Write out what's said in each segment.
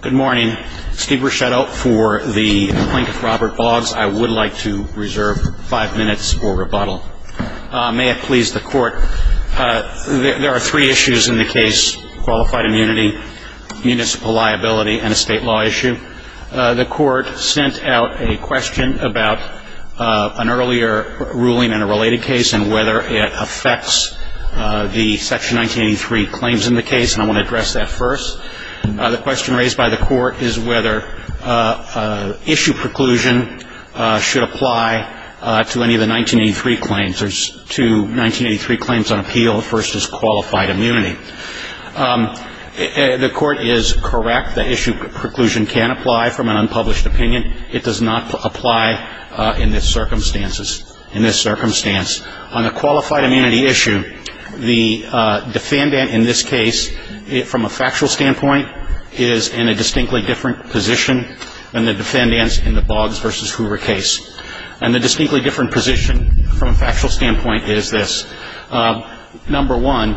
Good morning. Steve Ruscetto for the Plaintiff Robert Boggs. I would like to reserve five minutes for rebuttal. May it please the Court, there are three issues in the case. Qualified immunity, municipal liability, and a state law issue. The Court sent out a question about an earlier ruling in a related case and whether it affects the Section 1983 claims in the case. And I want to address that first. The question raised by the Court is whether issue preclusion should apply to any of the 1983 claims. There's two 1983 claims on appeal. The first is qualified immunity. The Court is correct. The issue preclusion can apply from an unpublished opinion. It does not apply in this circumstance. On the qualified immunity issue, the defendant in this case, from a factual standpoint, is in a distinctly different position than the defendants in the Boggs v. Hoover case. And the distinctly different position from a factual standpoint is this. Number one,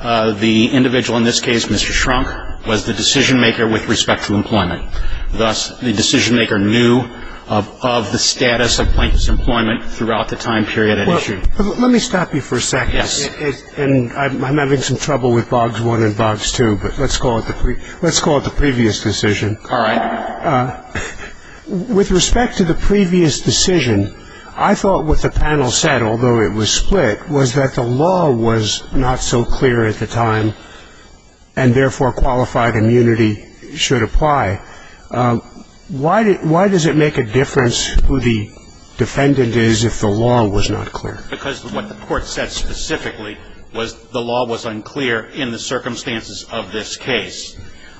the individual in this case, Mr. Schrunk, was the decision-maker with respect to employment. Thus, the decision-maker knew of the status of Blank's employment throughout the time period at issue. Let me stop you for a second. Yes. And I'm having some trouble with Boggs 1 and Boggs 2, but let's call it the previous decision. All right. With respect to the previous decision, I thought what the panel said, although it was split, was that the law was not so clear at the time, and therefore qualified immunity should apply. Why does it make a difference who the defendant is if the law was not clear? Because what the Court said specifically was the law was unclear in the circumstances of this case.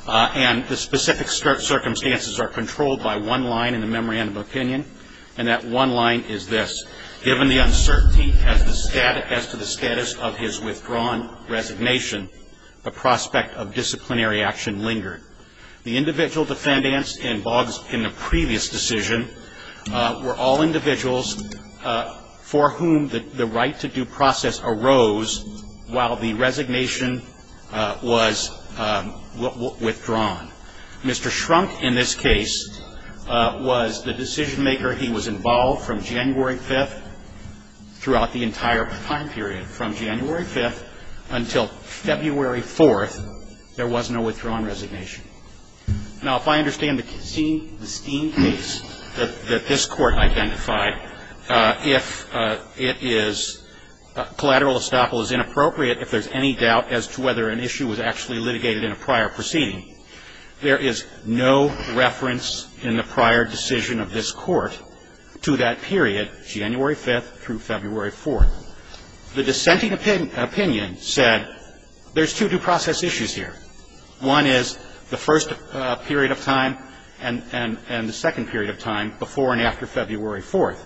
And the specific circumstances are controlled by one line in the memorandum of opinion, and that one line is this. Given the uncertainty as to the status of his withdrawn resignation, the prospect of disciplinary action lingered. The individual defendants in Boggs in the previous decision were all individuals for whom the right-to-do process arose while the resignation was withdrawn. Mr. Shrunk, in this case, was the decision-maker. He was involved from January 5th throughout the entire time period. From January 5th until February 4th, there was no withdrawn resignation. Now, if I understand the Steen case that this Court identified, if it is collateral if there's any doubt as to whether an issue was actually litigated in a prior proceeding, there is no reference in the prior decision of this Court to that period, January 5th through February 4th. The dissenting opinion said there's two due process issues here. One is the first period of time and the second period of time before and after February 4th.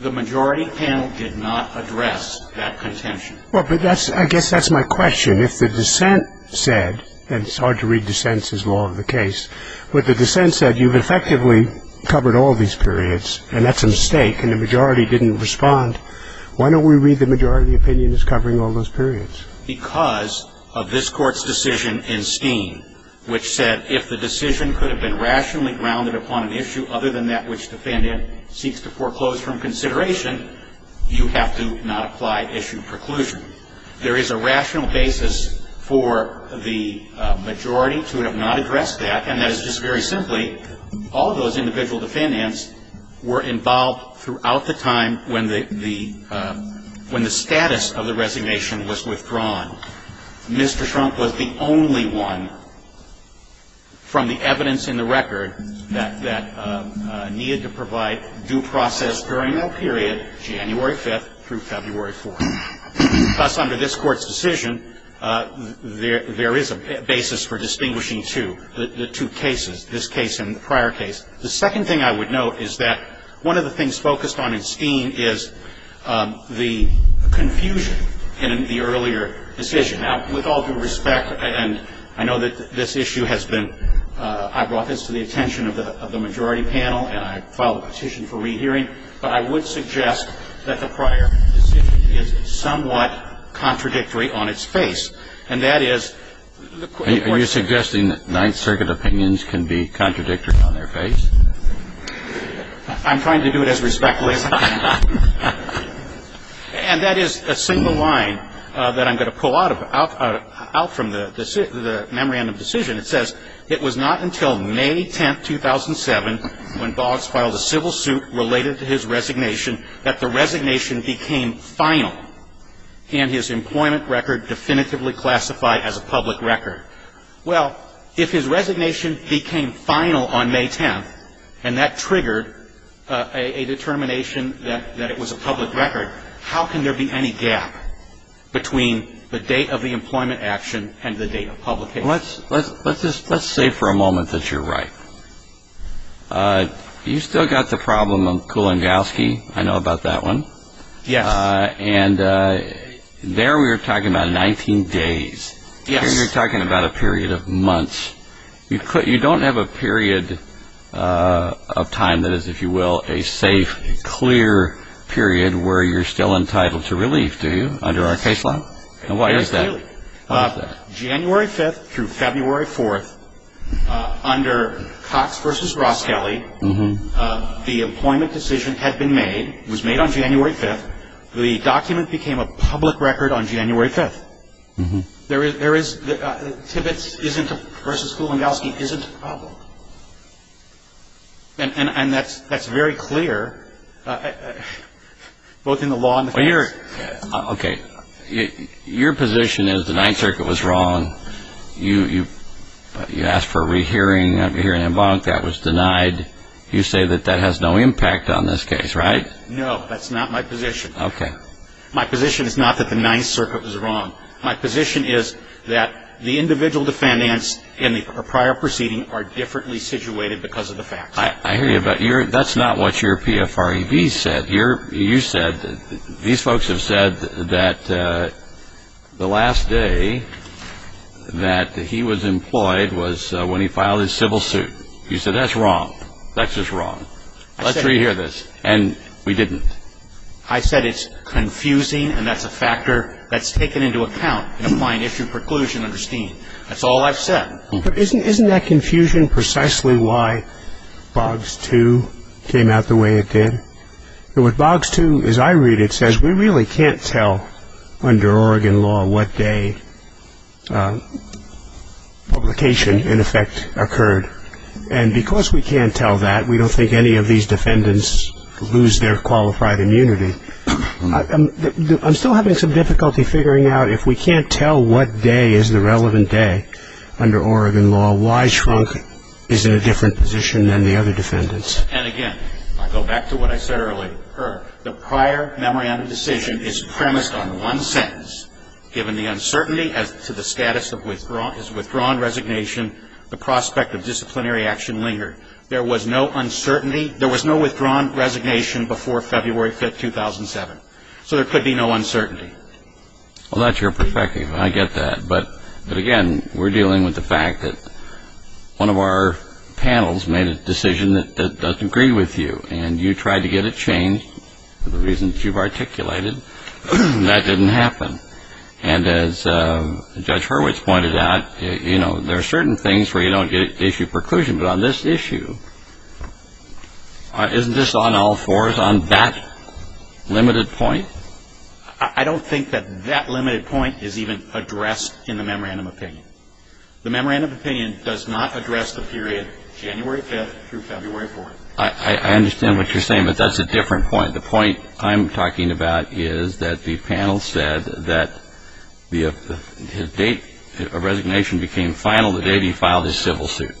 The majority panel did not address that contention. Well, but I guess that's my question. If the dissent said, and it's hard to read dissents as law of the case, but the dissent said you've effectively covered all these periods, and that's a mistake, and the majority didn't respond, why don't we read the majority opinion as covering all those periods? Because of this Court's decision in Steen, which said, if the decision could have been rationally grounded upon an issue other than that which defendant seeks to foreclose from consideration, you have to not apply issue preclusion. There is a rational basis for the majority to have not addressed that, and that is just very simply all those individual defendants were involved throughout the time when the status of the resignation was withdrawn. Mr. Trump was the only one from the evidence in the record that needed to provide due process during that period, January 5th through February 4th. Thus, under this Court's decision, there is a basis for distinguishing two, the two cases, this case and the prior case. The second thing I would note is that one of the things focused on in Steen is the confusion in the earlier decision. Now, with all due respect, and I know that this issue has been ‑‑ I brought this to the attention of the majority panel, and I filed a petition for rehearing, but I would suggest that the prior decision is somewhat contradictory on its face, and that is ‑‑ Are you suggesting that Ninth Circuit opinions can be contradictory on their face? I'm trying to do it as respectfully as I can. And that is a single line that I'm going to pull out from the memorandum decision. It says, It was not until May 10th, 2007, when Boggs filed a civil suit related to his resignation, that the resignation became final and his employment record definitively classified as a public record. Well, if his resignation became final on May 10th, and that triggered a determination that it was a public record, how can there be any gap between the date of the employment action and the date of publication? Let's say for a moment that you're right. You've still got the problem of Kulongowski. I know about that one. Yes. And there we were talking about 19 days. You're talking about a period of months. You don't have a period of time that is, if you will, a safe, clear period where you're still entitled to relief, do you, under our case law? Very clearly. And why is that? January 5th through February 4th, under Cox v. Roskelley, the employment decision had been made, was made on January 5th. The document became a public record on January 5th. Mm-hmm. There is – Tibbets isn't – versus Kulongowski isn't a problem. And that's very clear, both in the law and the facts. Okay. Your position is the Ninth Circuit was wrong. You asked for a rehearing of the hearing in Bonk. That was denied. You say that that has no impact on this case, right? No. That's not my position. Okay. My position is not that the Ninth Circuit was wrong. My position is that the individual defendants in the prior proceeding are differently situated because of the facts. I hear you, but that's not what your PFREV said. You said – these folks have said that the last day that he was employed was when he filed his civil suit. You said that's wrong. That's just wrong. Let's re-hear this. And we didn't. I said it's confusing and that's a factor that's taken into account in applying issue preclusion under Steen. That's all I've said. But isn't that confusion precisely why BOGS II came out the way it did? With BOGS II, as I read it, it says we really can't tell under Oregon law what day publication, in effect, occurred. And because we can't tell that, we don't think any of these defendants lose their qualified immunity. I'm still having some difficulty figuring out if we can't tell what day is the relevant day under Oregon law, why Schrunk is in a different position than the other defendants. And, again, I go back to what I said earlier. The prior memorandum decision is premised on one sentence. Given the uncertainty as to the status of his withdrawn resignation, the prospect of disciplinary action lingered. There was no uncertainty. There was no withdrawn resignation before February 5, 2007. So there could be no uncertainty. Well, that's your perspective. I get that. But, again, we're dealing with the fact that one of our panels made a decision that doesn't agree with you, and you tried to get it changed for the reasons you've articulated. That didn't happen. And as Judge Hurwitz pointed out, you know, there are certain things where you don't get issue preclusion. But on this issue, isn't this on all fours on that limited point? I don't think that that limited point is even addressed in the memorandum opinion. The memorandum opinion does not address the period January 5 through February 4. I understand what you're saying, but that's a different point. The point I'm talking about is that the panel said that his date of resignation became final the day he filed his civil suit.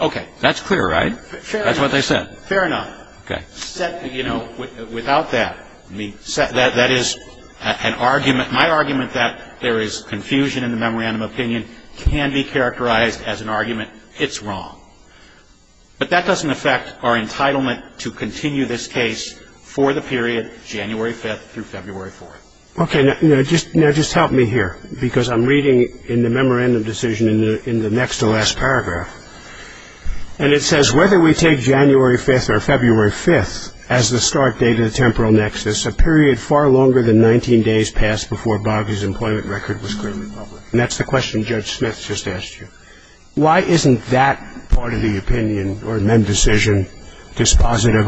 Okay. That's clear, right? That's what they said. Fair enough. Okay. You know, without that, that is an argument. My argument that there is confusion in the memorandum opinion can be characterized as an argument, it's wrong. But that doesn't affect our entitlement to continue this case for the period January 5 through February 4. Okay. Now, just help me here, because I'm reading in the memorandum decision in the next to last paragraph, and it says whether we take January 5 or February 5 as the start date of the temporal nexus, a period far longer than 19 days passed before Bobby's employment record was clearly published. And that's the question Judge Smith just asked you. Why isn't that part of the opinion or memorandum decision dispositive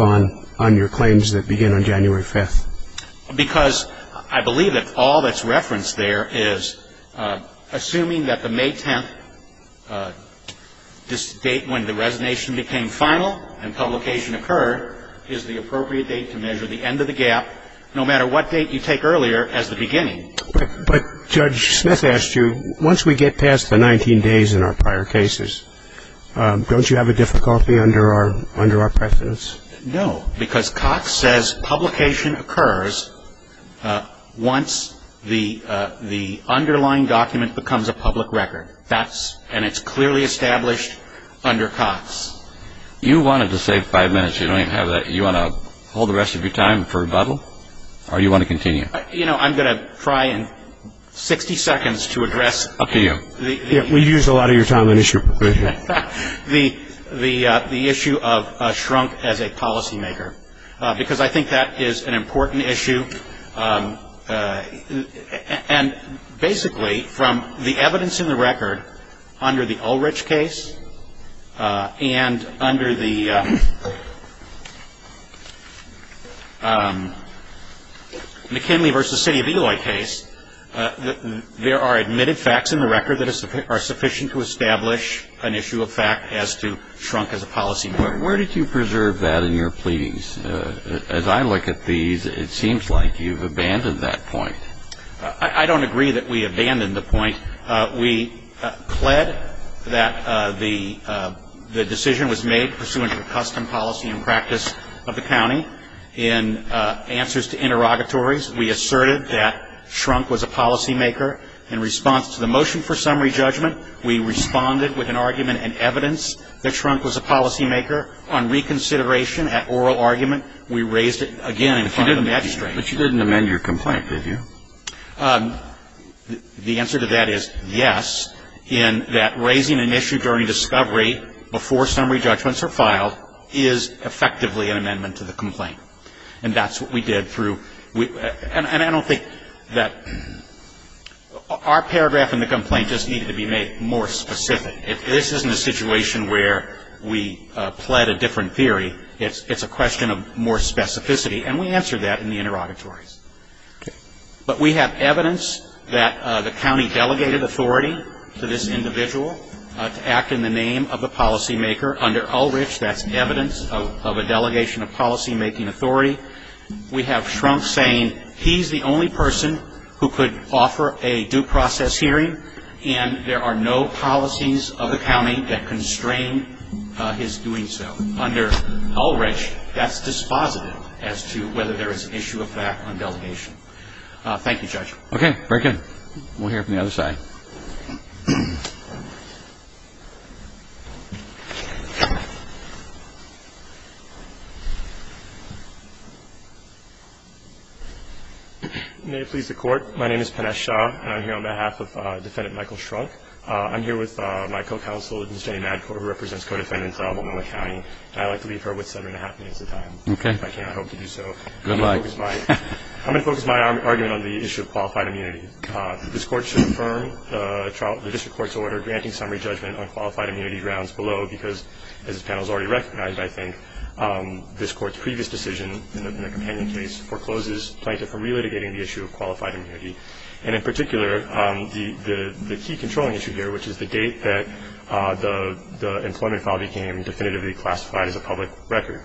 on your claims that begin on January 5? Because I believe that all that's referenced there is assuming that the May 10th, this date when the resignation became final and publication occurred, is the appropriate date to measure the end of the gap, no matter what date you take earlier as the beginning. But Judge Smith asked you, once we get past the 19 days in our prior cases, don't you have a difficulty under our precedence? No, because Cox says publication occurs once the underlying document becomes a public record, and it's clearly established under Cox. You wanted to save five minutes. You want to hold the rest of your time for rebuttal, or do you want to continue? You know, I'm going to try in 60 seconds to address the issue of shrunk as a policymaker, because I think that is an important issue. And basically, from the evidence in the record under the Ulrich case and under the McKinley v. City of Eloy case, there are admitted facts in the record that are sufficient to establish an issue of fact as to shrunk as a policymaker. Where did you preserve that in your pleadings? As I look at these, it seems like you've abandoned that point. I don't agree that we abandoned the point. We pled that the decision was made pursuant to the custom, policy, and practice of the county. In answers to interrogatories, we asserted that shrunk was a policymaker. In response to the motion for summary judgment, we responded with an argument and evidence that shrunk was a policymaker. On reconsideration at oral argument, we raised it again in front of the magistrate. But you didn't amend your complaint, did you? The answer to that is yes, in that raising an issue during discovery before summary judgments are filed is effectively an amendment to the complaint. And that's what we did through. And I don't think that our paragraph in the complaint just needed to be made more specific. This isn't a situation where we pled a different theory. It's a question of more specificity. And we answered that in the interrogatories. But we have evidence that the county delegated authority to this individual to act in the name of the policymaker. Under Ulrich, that's evidence of a delegation of policymaking authority. We have shrunk saying he's the only person who could offer a due process hearing, and there are no policies of the county that constrain his doing so. Under Ulrich, that's dispositive as to whether there is an issue of that on delegation. Thank you, Judge. Okay, break in. We'll hear from the other side. May it please the Court, my name is Panesh Shah, and I'm here on behalf of Defendant Michael Schrunk. I'm here with my co-counsel, Ms. Jenny Madcourt, who represents co-defendants in Albemarle County, and I'd like to leave her with seven and a half minutes of time. Okay. If I can, I hope to do so. Good luck. I'm going to focus my argument on the issue of qualified immunity. This Court should affirm the district court's order granting summary judgment on qualified immunity grounds below, because as this panel has already recognized, I think, this Court's previous decision in the companion case forecloses plaintiff from relitigating the issue of qualified immunity, and in particular the key controlling issue here, which is the date that the employment file became definitively classified as a public record.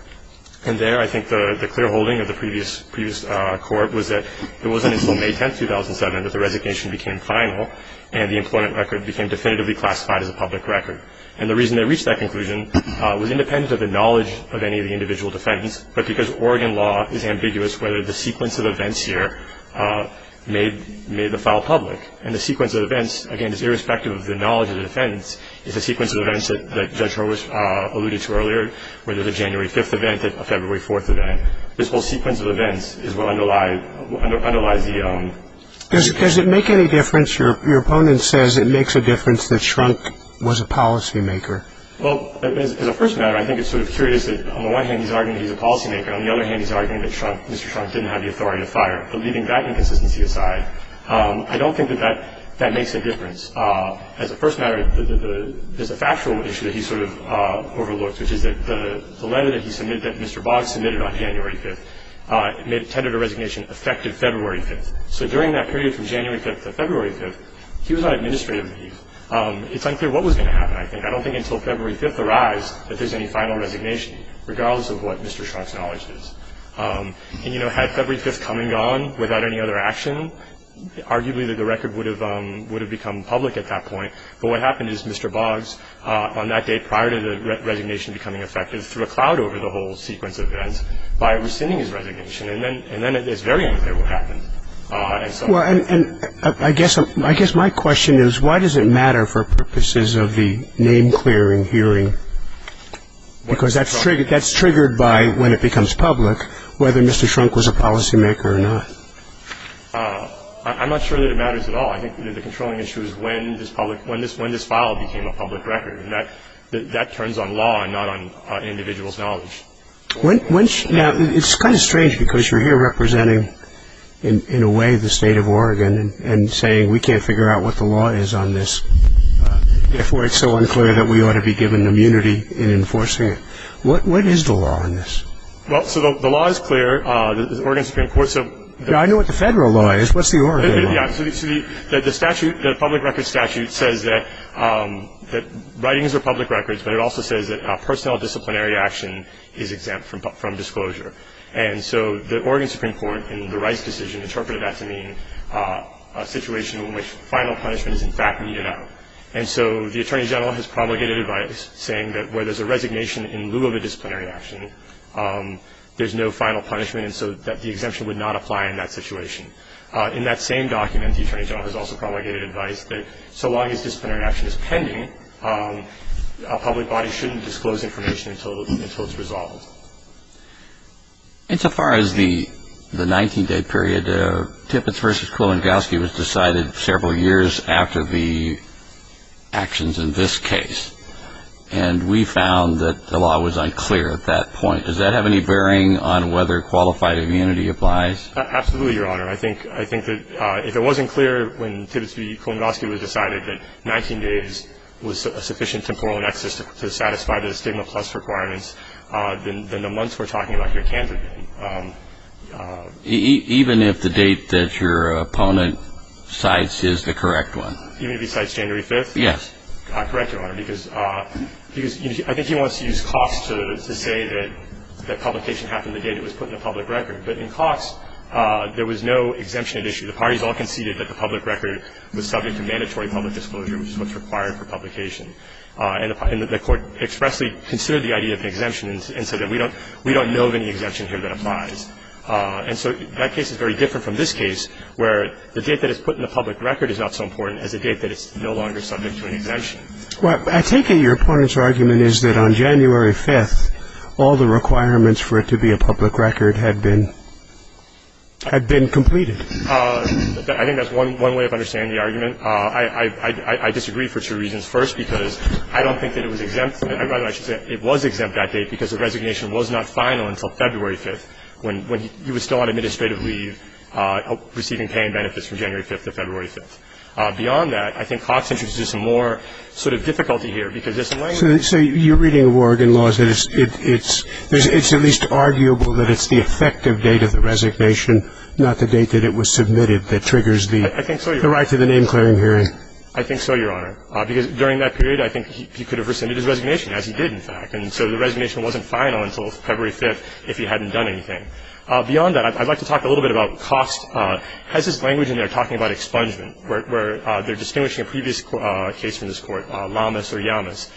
And there I think the clear holding of the previous Court was that it wasn't until May 10, 2007, that the resignation became final and the employment record became definitively classified as a public record. And the reason they reached that conclusion was independent of the knowledge of any of the individual defendants, but because Oregon law is ambiguous whether the sequence of events here made the file public. And the sequence of events, again, is irrespective of the knowledge of the defendants, is a sequence of events that Judge Roach alluded to earlier, whether it's a January 5th event, a February 4th event. This whole sequence of events is what underlies the case. Does it make any difference? Your opponent says it makes a difference that Shrunk was a policymaker. Well, as a first matter, I think it's sort of curious that, on the one hand, he's arguing he's a policymaker. On the other hand, he's arguing that Mr. Shrunk didn't have the authority to fire. But leaving that inconsistency aside, I don't think that that makes a difference. As a first matter, there's a factual issue that he sort of overlooked, which is that the letter that he submitted, that Mr. Boggs submitted on January 5th, tended to resignation effective February 5th. So during that period from January 5th to February 5th, he was on administrative leave. It's unclear what was going to happen, I think. I don't think until February 5th arrives that there's any final resignation, regardless of what Mr. Shrunk's knowledge is. And, you know, had February 5th come and gone without any other action, arguably the record would have become public at that point. But what happened is Mr. Boggs, on that day prior to the resignation becoming effective, threw a cloud over the whole sequence of events by rescinding his resignation. And then it's very unclear what happened. Well, and I guess my question is, why does it matter for purposes of the name-clearing hearing? Because that's triggered by, when it becomes public, whether Mr. Shrunk was a policymaker or not. I'm not sure that it matters at all. I think the controlling issue is when this file became a public record, and that turns on law and not on an individual's knowledge. Now, it's kind of strange, because you're here representing, in a way, the state of Oregon, and saying we can't figure out what the law is on this. Therefore, it's so unclear that we ought to be given immunity in enforcing it. What is the law on this? Well, so the law is clear, the Oregon Supreme Court. Yeah, I know what the federal law is. What's the Oregon law? Yeah, so the statute, the public record statute, says that writings are public records, but it also says that personnel disciplinary action is exempt from disclosure. And so the Oregon Supreme Court, in the Rice decision, interpreted that to mean a situation in which final punishment is, in fact, needed out. And so the Attorney General has promulgated advice, saying that where there's a resignation in lieu of a disciplinary action, there's no final punishment, and so that the exemption would not apply in that situation. In that same document, the Attorney General has also promulgated advice that so long as disciplinary action is pending, a public body shouldn't disclose information until it's resolved. Insofar as the 19-day period, Tippetts v. Kulangowski was decided several years after the actions in this case, and we found that the law was unclear at that point. Does that have any bearing on whether qualified immunity applies? Absolutely, Your Honor. I think that if it wasn't clear when Tippetts v. Kulangowski was decided that 19 days was a sufficient temporal nexus to satisfy the stigma plus requirements, then the months we're talking about here can be. Even if the date that your opponent cites is the correct one? Even if he cites January 5th? Yes. Correct, Your Honor, because I think he wants to use Cox to say that publication happened the day it was put in the public record. But in Cox, there was no exemption at issue. The parties all conceded that the public record was subject to mandatory public disclosure, which is what's required for publication. And the Court expressly considered the idea of an exemption and said that we don't know of any exemption here that applies. And so that case is very different from this case, where the date that it's put in the public record is not so important as the date that it's no longer subject to an exemption. Well, I take it your opponent's argument is that on January 5th, all the requirements for it to be a public record had been completed. I think that's one way of understanding the argument. I disagree for two reasons. First, because I don't think that it was exempt. Rather, I should say it was exempt that date because the resignation was not final until February 5th, when he was still on administrative leave receiving pay and benefits from January 5th to February 5th. Beyond that, I think Cox introduces some more sort of difficulty here, because there's some language. So you're reading a word in laws that it's at least arguable that it's the effective date of the resignation, not the date that it was submitted that triggers the right to the name-clearing hearing. I think so, Your Honor. Because during that period, I think he could have rescinded his resignation, as he did, in fact. And so the resignation wasn't final until February 5th if he hadn't done anything. Beyond that, I'd like to talk a little bit about Cox has this language in there talking about expungement, where they're distinguishing a previous case from this Court, Lamas or Yamas.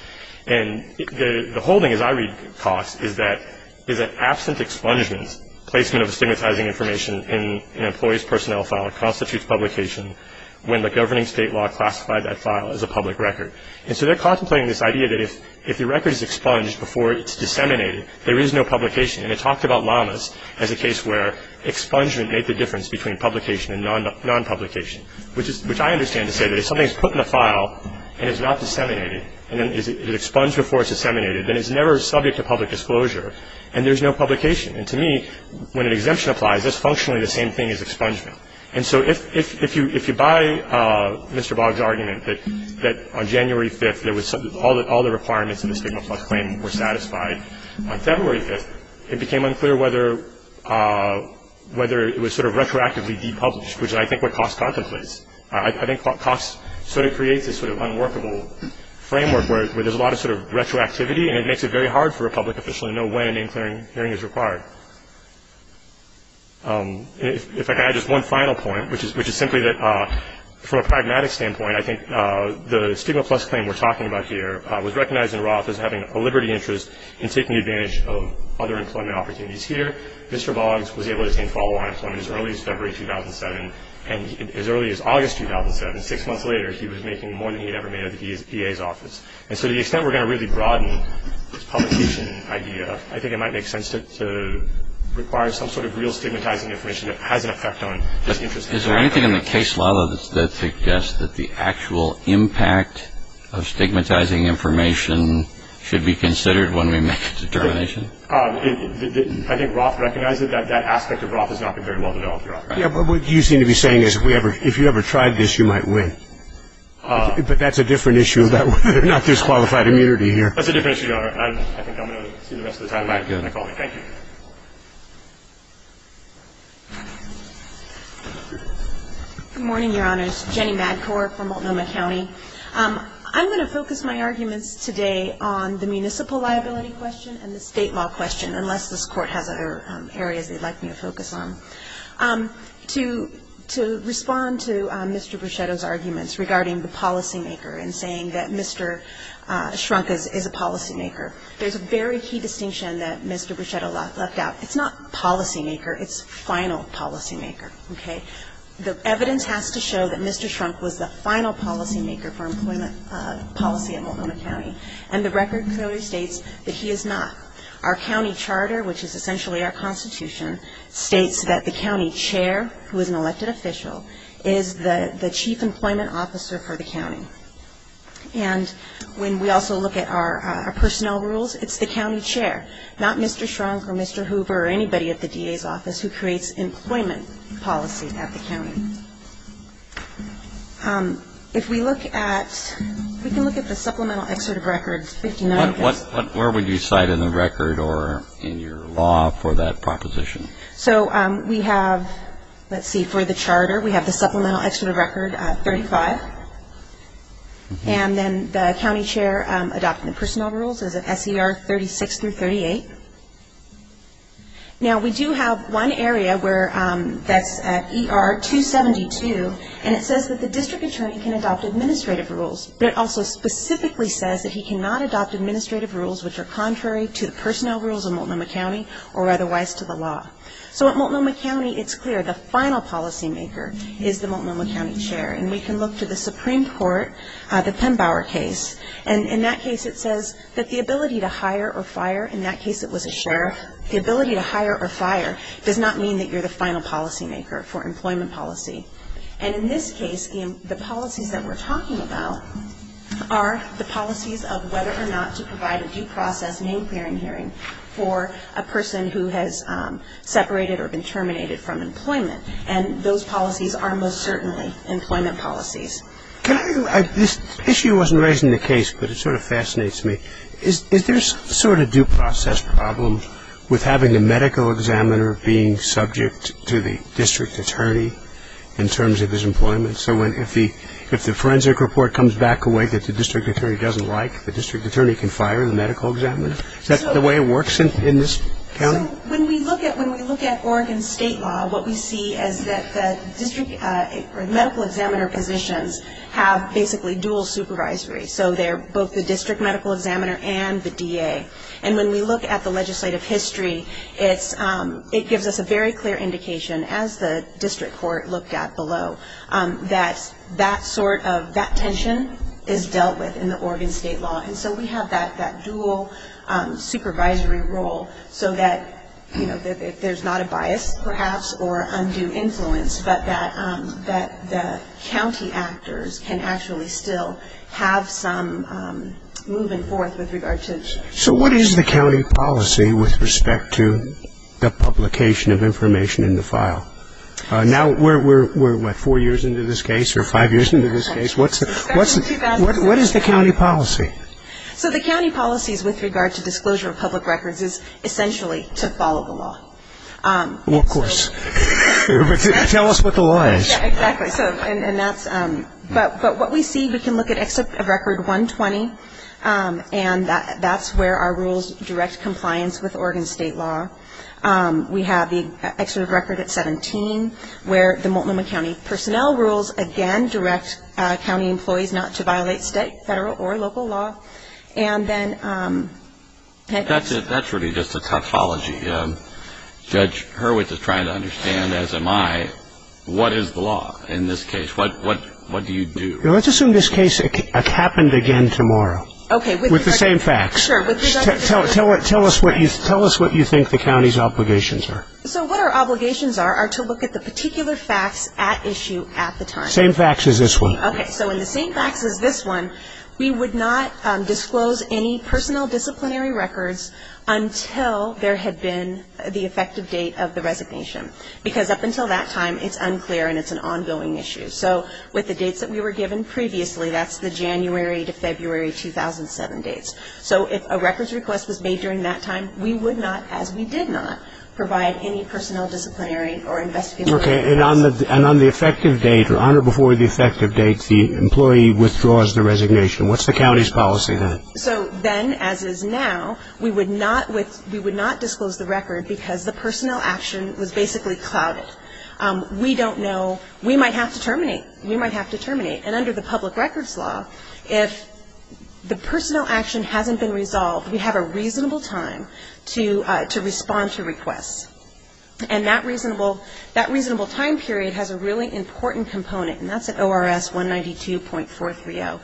And the whole thing, as I read Cox, is that absent expungement, placement of stigmatizing information in an employee's personnel file constitutes publication when the governing state law classified that file as a public record. And so they're contemplating this idea that if the record is expunged before it's disseminated, there is no publication. And they talked about Lamas as a case where expungement made the difference between publication and non-publication, which I understand to say that if something is put in a file and it's not disseminated, and then it's expunged before it's disseminated, then it's never subject to public disclosure, and there's no publication. And to me, when an exemption applies, that's functionally the same thing as expungement. And so if you buy Mr. Boggs' argument that on January 5th all the requirements of the stigma plus claim were satisfied, on February 5th it became unclear whether it was sort of retroactively depublished, which I think is what Cox contemplates. I think Cox sort of creates this sort of unworkable framework where there's a lot of sort of retroactivity, and it makes it very hard for a public official to know when a name-clearing hearing is required. If I could add just one final point, which is simply that from a pragmatic standpoint, I think the stigma plus claim we're talking about here was recognized in Roth as having a liberty interest in taking advantage of other employment opportunities here. Mr. Boggs was able to obtain follow-on employment as early as February 2007, and as early as August 2007, six months later, he was making more than he had ever made at the DA's office. And so to the extent we're going to really broaden this publication idea, I think it might make sense to require some sort of real stigmatizing information that has an effect on this interest. Is there anything in the case law that suggests that the actual impact of stigmatizing information should be considered when we make a determination? I think Roth recognizes that that aspect of Roth has not been very well developed. Yeah, but what you seem to be saying is if you ever tried this, you might win. But that's a different issue, not disqualified immunity here. That's a different issue, Your Honor. I think I'm going to see the rest of the time. Thank you. Good morning, Your Honors. Jenny Madcorp from Multnomah County. I'm going to focus my arguments today on the municipal liability question and the state law question, unless this Court has other areas they'd like me to focus on. To respond to Mr. Bruchetto's arguments regarding the policymaker and saying that Mr. Shrunk is a policymaker, there's a very key distinction that Mr. Bruchetto left out. It's not policymaker, it's final policymaker, okay? The evidence has to show that Mr. Shrunk was the final policymaker for employment policy at Multnomah County, and the record clearly states that he is not. Our county charter, which is essentially our constitution, states that the county chair, who is an elected official, is the chief employment officer for the county. And when we also look at our personnel rules, it's the county chair, not Mr. Shrunk or Mr. Hoover or anybody at the DA's office who creates employment policy at the county. If we look at, we can look at the supplemental excerpt of records. Where would you cite in the record or in your law for that proposition? So we have, let's see, for the charter, we have the supplemental excerpt of record 35, and then the county chair adopting the personnel rules as of S.E.R. 36 through 38. Now we do have one area where that's at E.R. 272, and it says that the district attorney can adopt administrative rules, but it also specifically says that he cannot adopt administrative rules which are contrary to the personnel rules of Multnomah County or otherwise to the law. So at Multnomah County, it's clear the final policymaker is the Multnomah County chair, and we can look to the Supreme Court, the Penn-Bauer case, and in that case it says that the ability to hire or fire, in that case it was a sheriff, the ability to hire or fire does not mean that you're the final policymaker for employment policy. And in this case, the policies that we're talking about are the policies of whether or not to provide a due process name-clearing hearing for a person who has separated or been terminated from employment, and those policies are most certainly employment policies. This issue wasn't raised in the case, but it sort of fascinates me. Is there a sort of due process problem with having a medical examiner being subject to the district attorney in terms of his employment? So if the forensic report comes back a way that the district attorney doesn't like, the district attorney can fire the medical examiner? Is that the way it works in this county? When we look at Oregon state law, what we see is that the district medical examiner positions have basically dual supervisory. So they're both the district medical examiner and the DA. And when we look at the legislative history, it gives us a very clear indication, as the district court looked at below, that that tension is dealt with in the Oregon state law. And so we have that dual supervisory role so that, you know, if there's not a bias, perhaps, or undue influence, but that the county actors can actually still have some move-in forth with regard to. So what is the county policy with respect to the publication of information in the file? Now we're, what, four years into this case or five years into this case? What is the county policy? So the county policies with regard to disclosure of public records is essentially to follow the law. Well, of course. Tell us what the law is. Exactly. And that's, but what we see, we can look at Excerpt of Record 120, and that's where our rules direct compliance with Oregon state law. We have the Excerpt of Record at 17, where the Multnomah County Personnel Rules, again, direct county employees not to violate state, federal, or local law. And then that's it. That's really just a tautology. Judge Hurwitz is trying to understand, as am I, what is the law in this case? What do you do? Let's assume this case happened again tomorrow. Okay. With the same facts. Tell us what you think the county's obligations are. So what our obligations are are to look at the particular facts at issue at the time. Same facts as this one. Okay. So in the same facts as this one, we would not disclose any personnel disciplinary records until there had been the effective date of the resignation. Because up until that time, it's unclear and it's an ongoing issue. So with the dates that we were given previously, that's the January to February 2007 dates. So if a records request was made during that time, we would not, as we did not, provide any personnel disciplinary or investigative records. Okay. And on the effective date, or on or before the effective date, the employee withdraws the resignation. What's the county's policy then? So then, as is now, we would not disclose the record because the personnel action was basically clouded. We don't know. We might have to terminate. We might have to terminate. And under the public records law, if the personnel action hasn't been resolved, we have a reasonable time to respond to requests. And that reasonable time period has a really important component, and that's at ORS 192.430.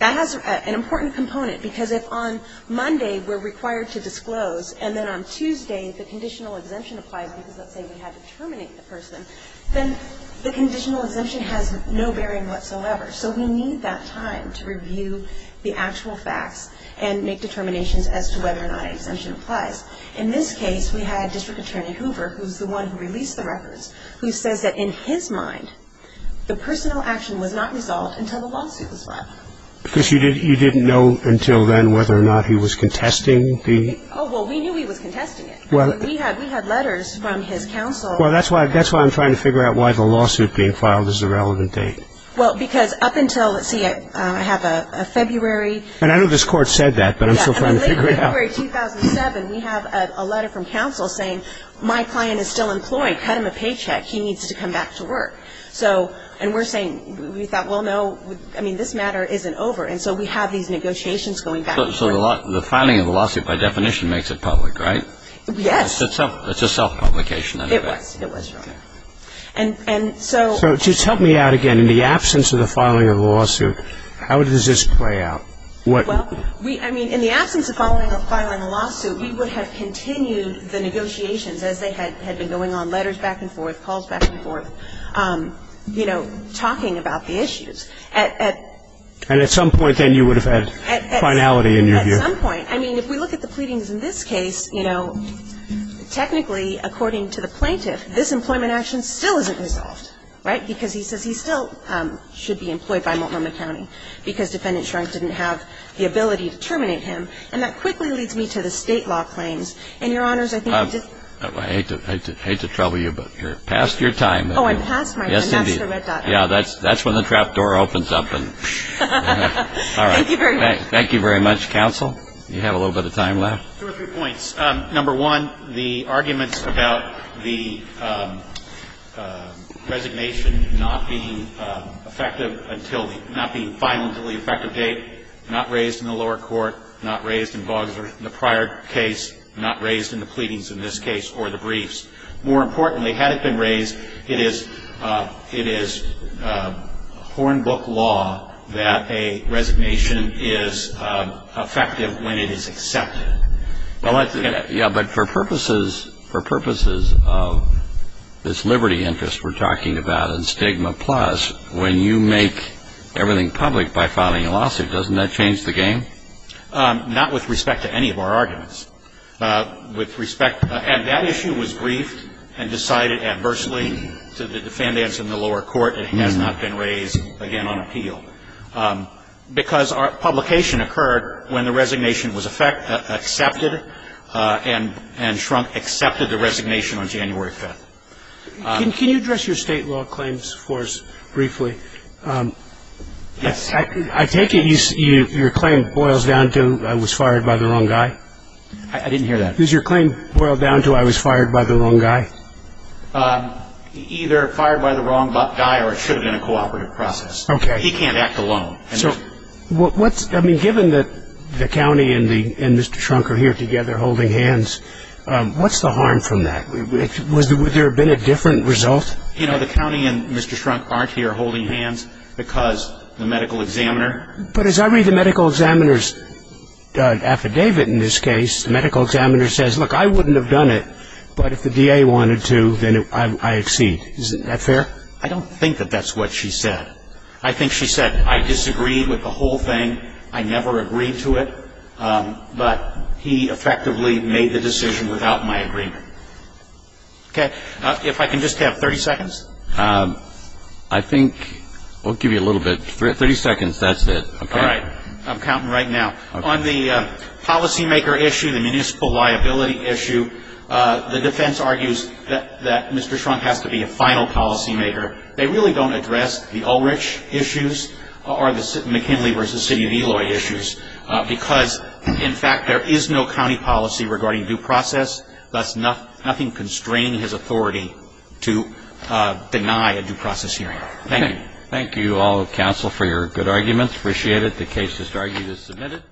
That has an important component because if on Monday we're required to disclose and then on Tuesday the conditional exemption applies because, let's say, we had to terminate the person, then the conditional exemption has no bearing whatsoever. So we need that time to review the actual facts and make determinations as to whether or not an exemption applies. In this case, we had District Attorney Hoover, who's the one who released the records, who says that, in his mind, the personnel action was not resolved until the lawsuit was filed. Because you didn't know until then whether or not he was contesting the? Oh, well, we knew he was contesting it. We had letters from his counsel. Well, that's why I'm trying to figure out why the lawsuit being filed is a relevant date. Well, because up until, let's see, I have a February? And I know this Court said that, but I'm still trying to figure it out. Yeah, so late in February 2007, we have a letter from counsel saying, my client is still employed, cut him a paycheck, he needs to come back to work. So, and we're saying, we thought, well, no, I mean, this matter isn't over. And so we have these negotiations going back and forth. So the filing of the lawsuit, by definition, makes it public, right? Yes. It's a self-publication anyway. It was. It was, Your Honor. And so? So just help me out again. In the absence of the filing of the lawsuit, how does this play out? Well, I mean, in the absence of filing a lawsuit, we would have continued the negotiations as they had been going on, letters back and forth, calls back and forth, you know, talking about the issues. And at some point, then, you would have had finality in your view. At some point. I mean, if we look at the pleadings in this case, you know, technically, according to the plaintiff, this employment action still isn't resolved, right? Because he says he still should be employed by Multnomah County because Defendant Shrunk didn't have the ability to terminate him. And that quickly leads me to the state law claims. And, Your Honors, I think I did. I hate to trouble you, but you're past your time. Oh, I'm past my time. That's the red dot. Yeah, that's when the trap door opens up. All right. Thank you very much. Thank you very much. Counsel, you have a little bit of time left. Two or three points. Number one, the arguments about the resignation not being effective until the ‑‑ not being final until the effective date, not raised in the lower court, not raised in Boggs or in the prior case, not raised in the pleadings in this case or the briefs. More importantly, had it been raised, it is hornbook law that a resignation is effective when it is accepted. Yeah, but for purposes of this liberty interest we're talking about and stigma plus, when you make everything public by filing a lawsuit, doesn't that change the game? Not with respect to any of our arguments. With respect ‑‑ and that issue was briefed and decided adversely to the defendants in the lower court. It has not been raised, again, on appeal. Because our publication occurred when the resignation was accepted and Shrunk accepted the resignation on January 5th. Can you address your state law claims for us briefly? Yes. I take it your claim boils down to I was fired by the wrong guy? I didn't hear that. Does your claim boil down to I was fired by the wrong guy? Either fired by the wrong guy or it should have been a cooperative process. Okay. He can't act alone. Given that the county and Mr. Shrunk are here together holding hands, what's the harm from that? Would there have been a different result? You know, the county and Mr. Shrunk aren't here holding hands because the medical examiner. But as I read the medical examiner's affidavit in this case, the medical examiner says, look, I wouldn't have done it, but if the DA wanted to, then I exceed. Isn't that fair? I don't think that that's what she said. I think she said I disagreed with the whole thing. I never agreed to it. But he effectively made the decision without my agreement. Okay. If I can just have 30 seconds. I think we'll give you a little bit. 30 seconds, that's it. Okay. All right. I'm counting right now. On the policymaker issue, the municipal liability issue, the defense argues that Mr. Shrunk has to be a final policymaker. They really don't address the Ulrich issues or the McKinley v. City of Eloy issues because, in fact, there is no county policy regarding due process, thus nothing constraining his authority to deny a due process hearing. Thank you. Thank you all of counsel for your good arguments. Appreciate it. The case is argued as submitted.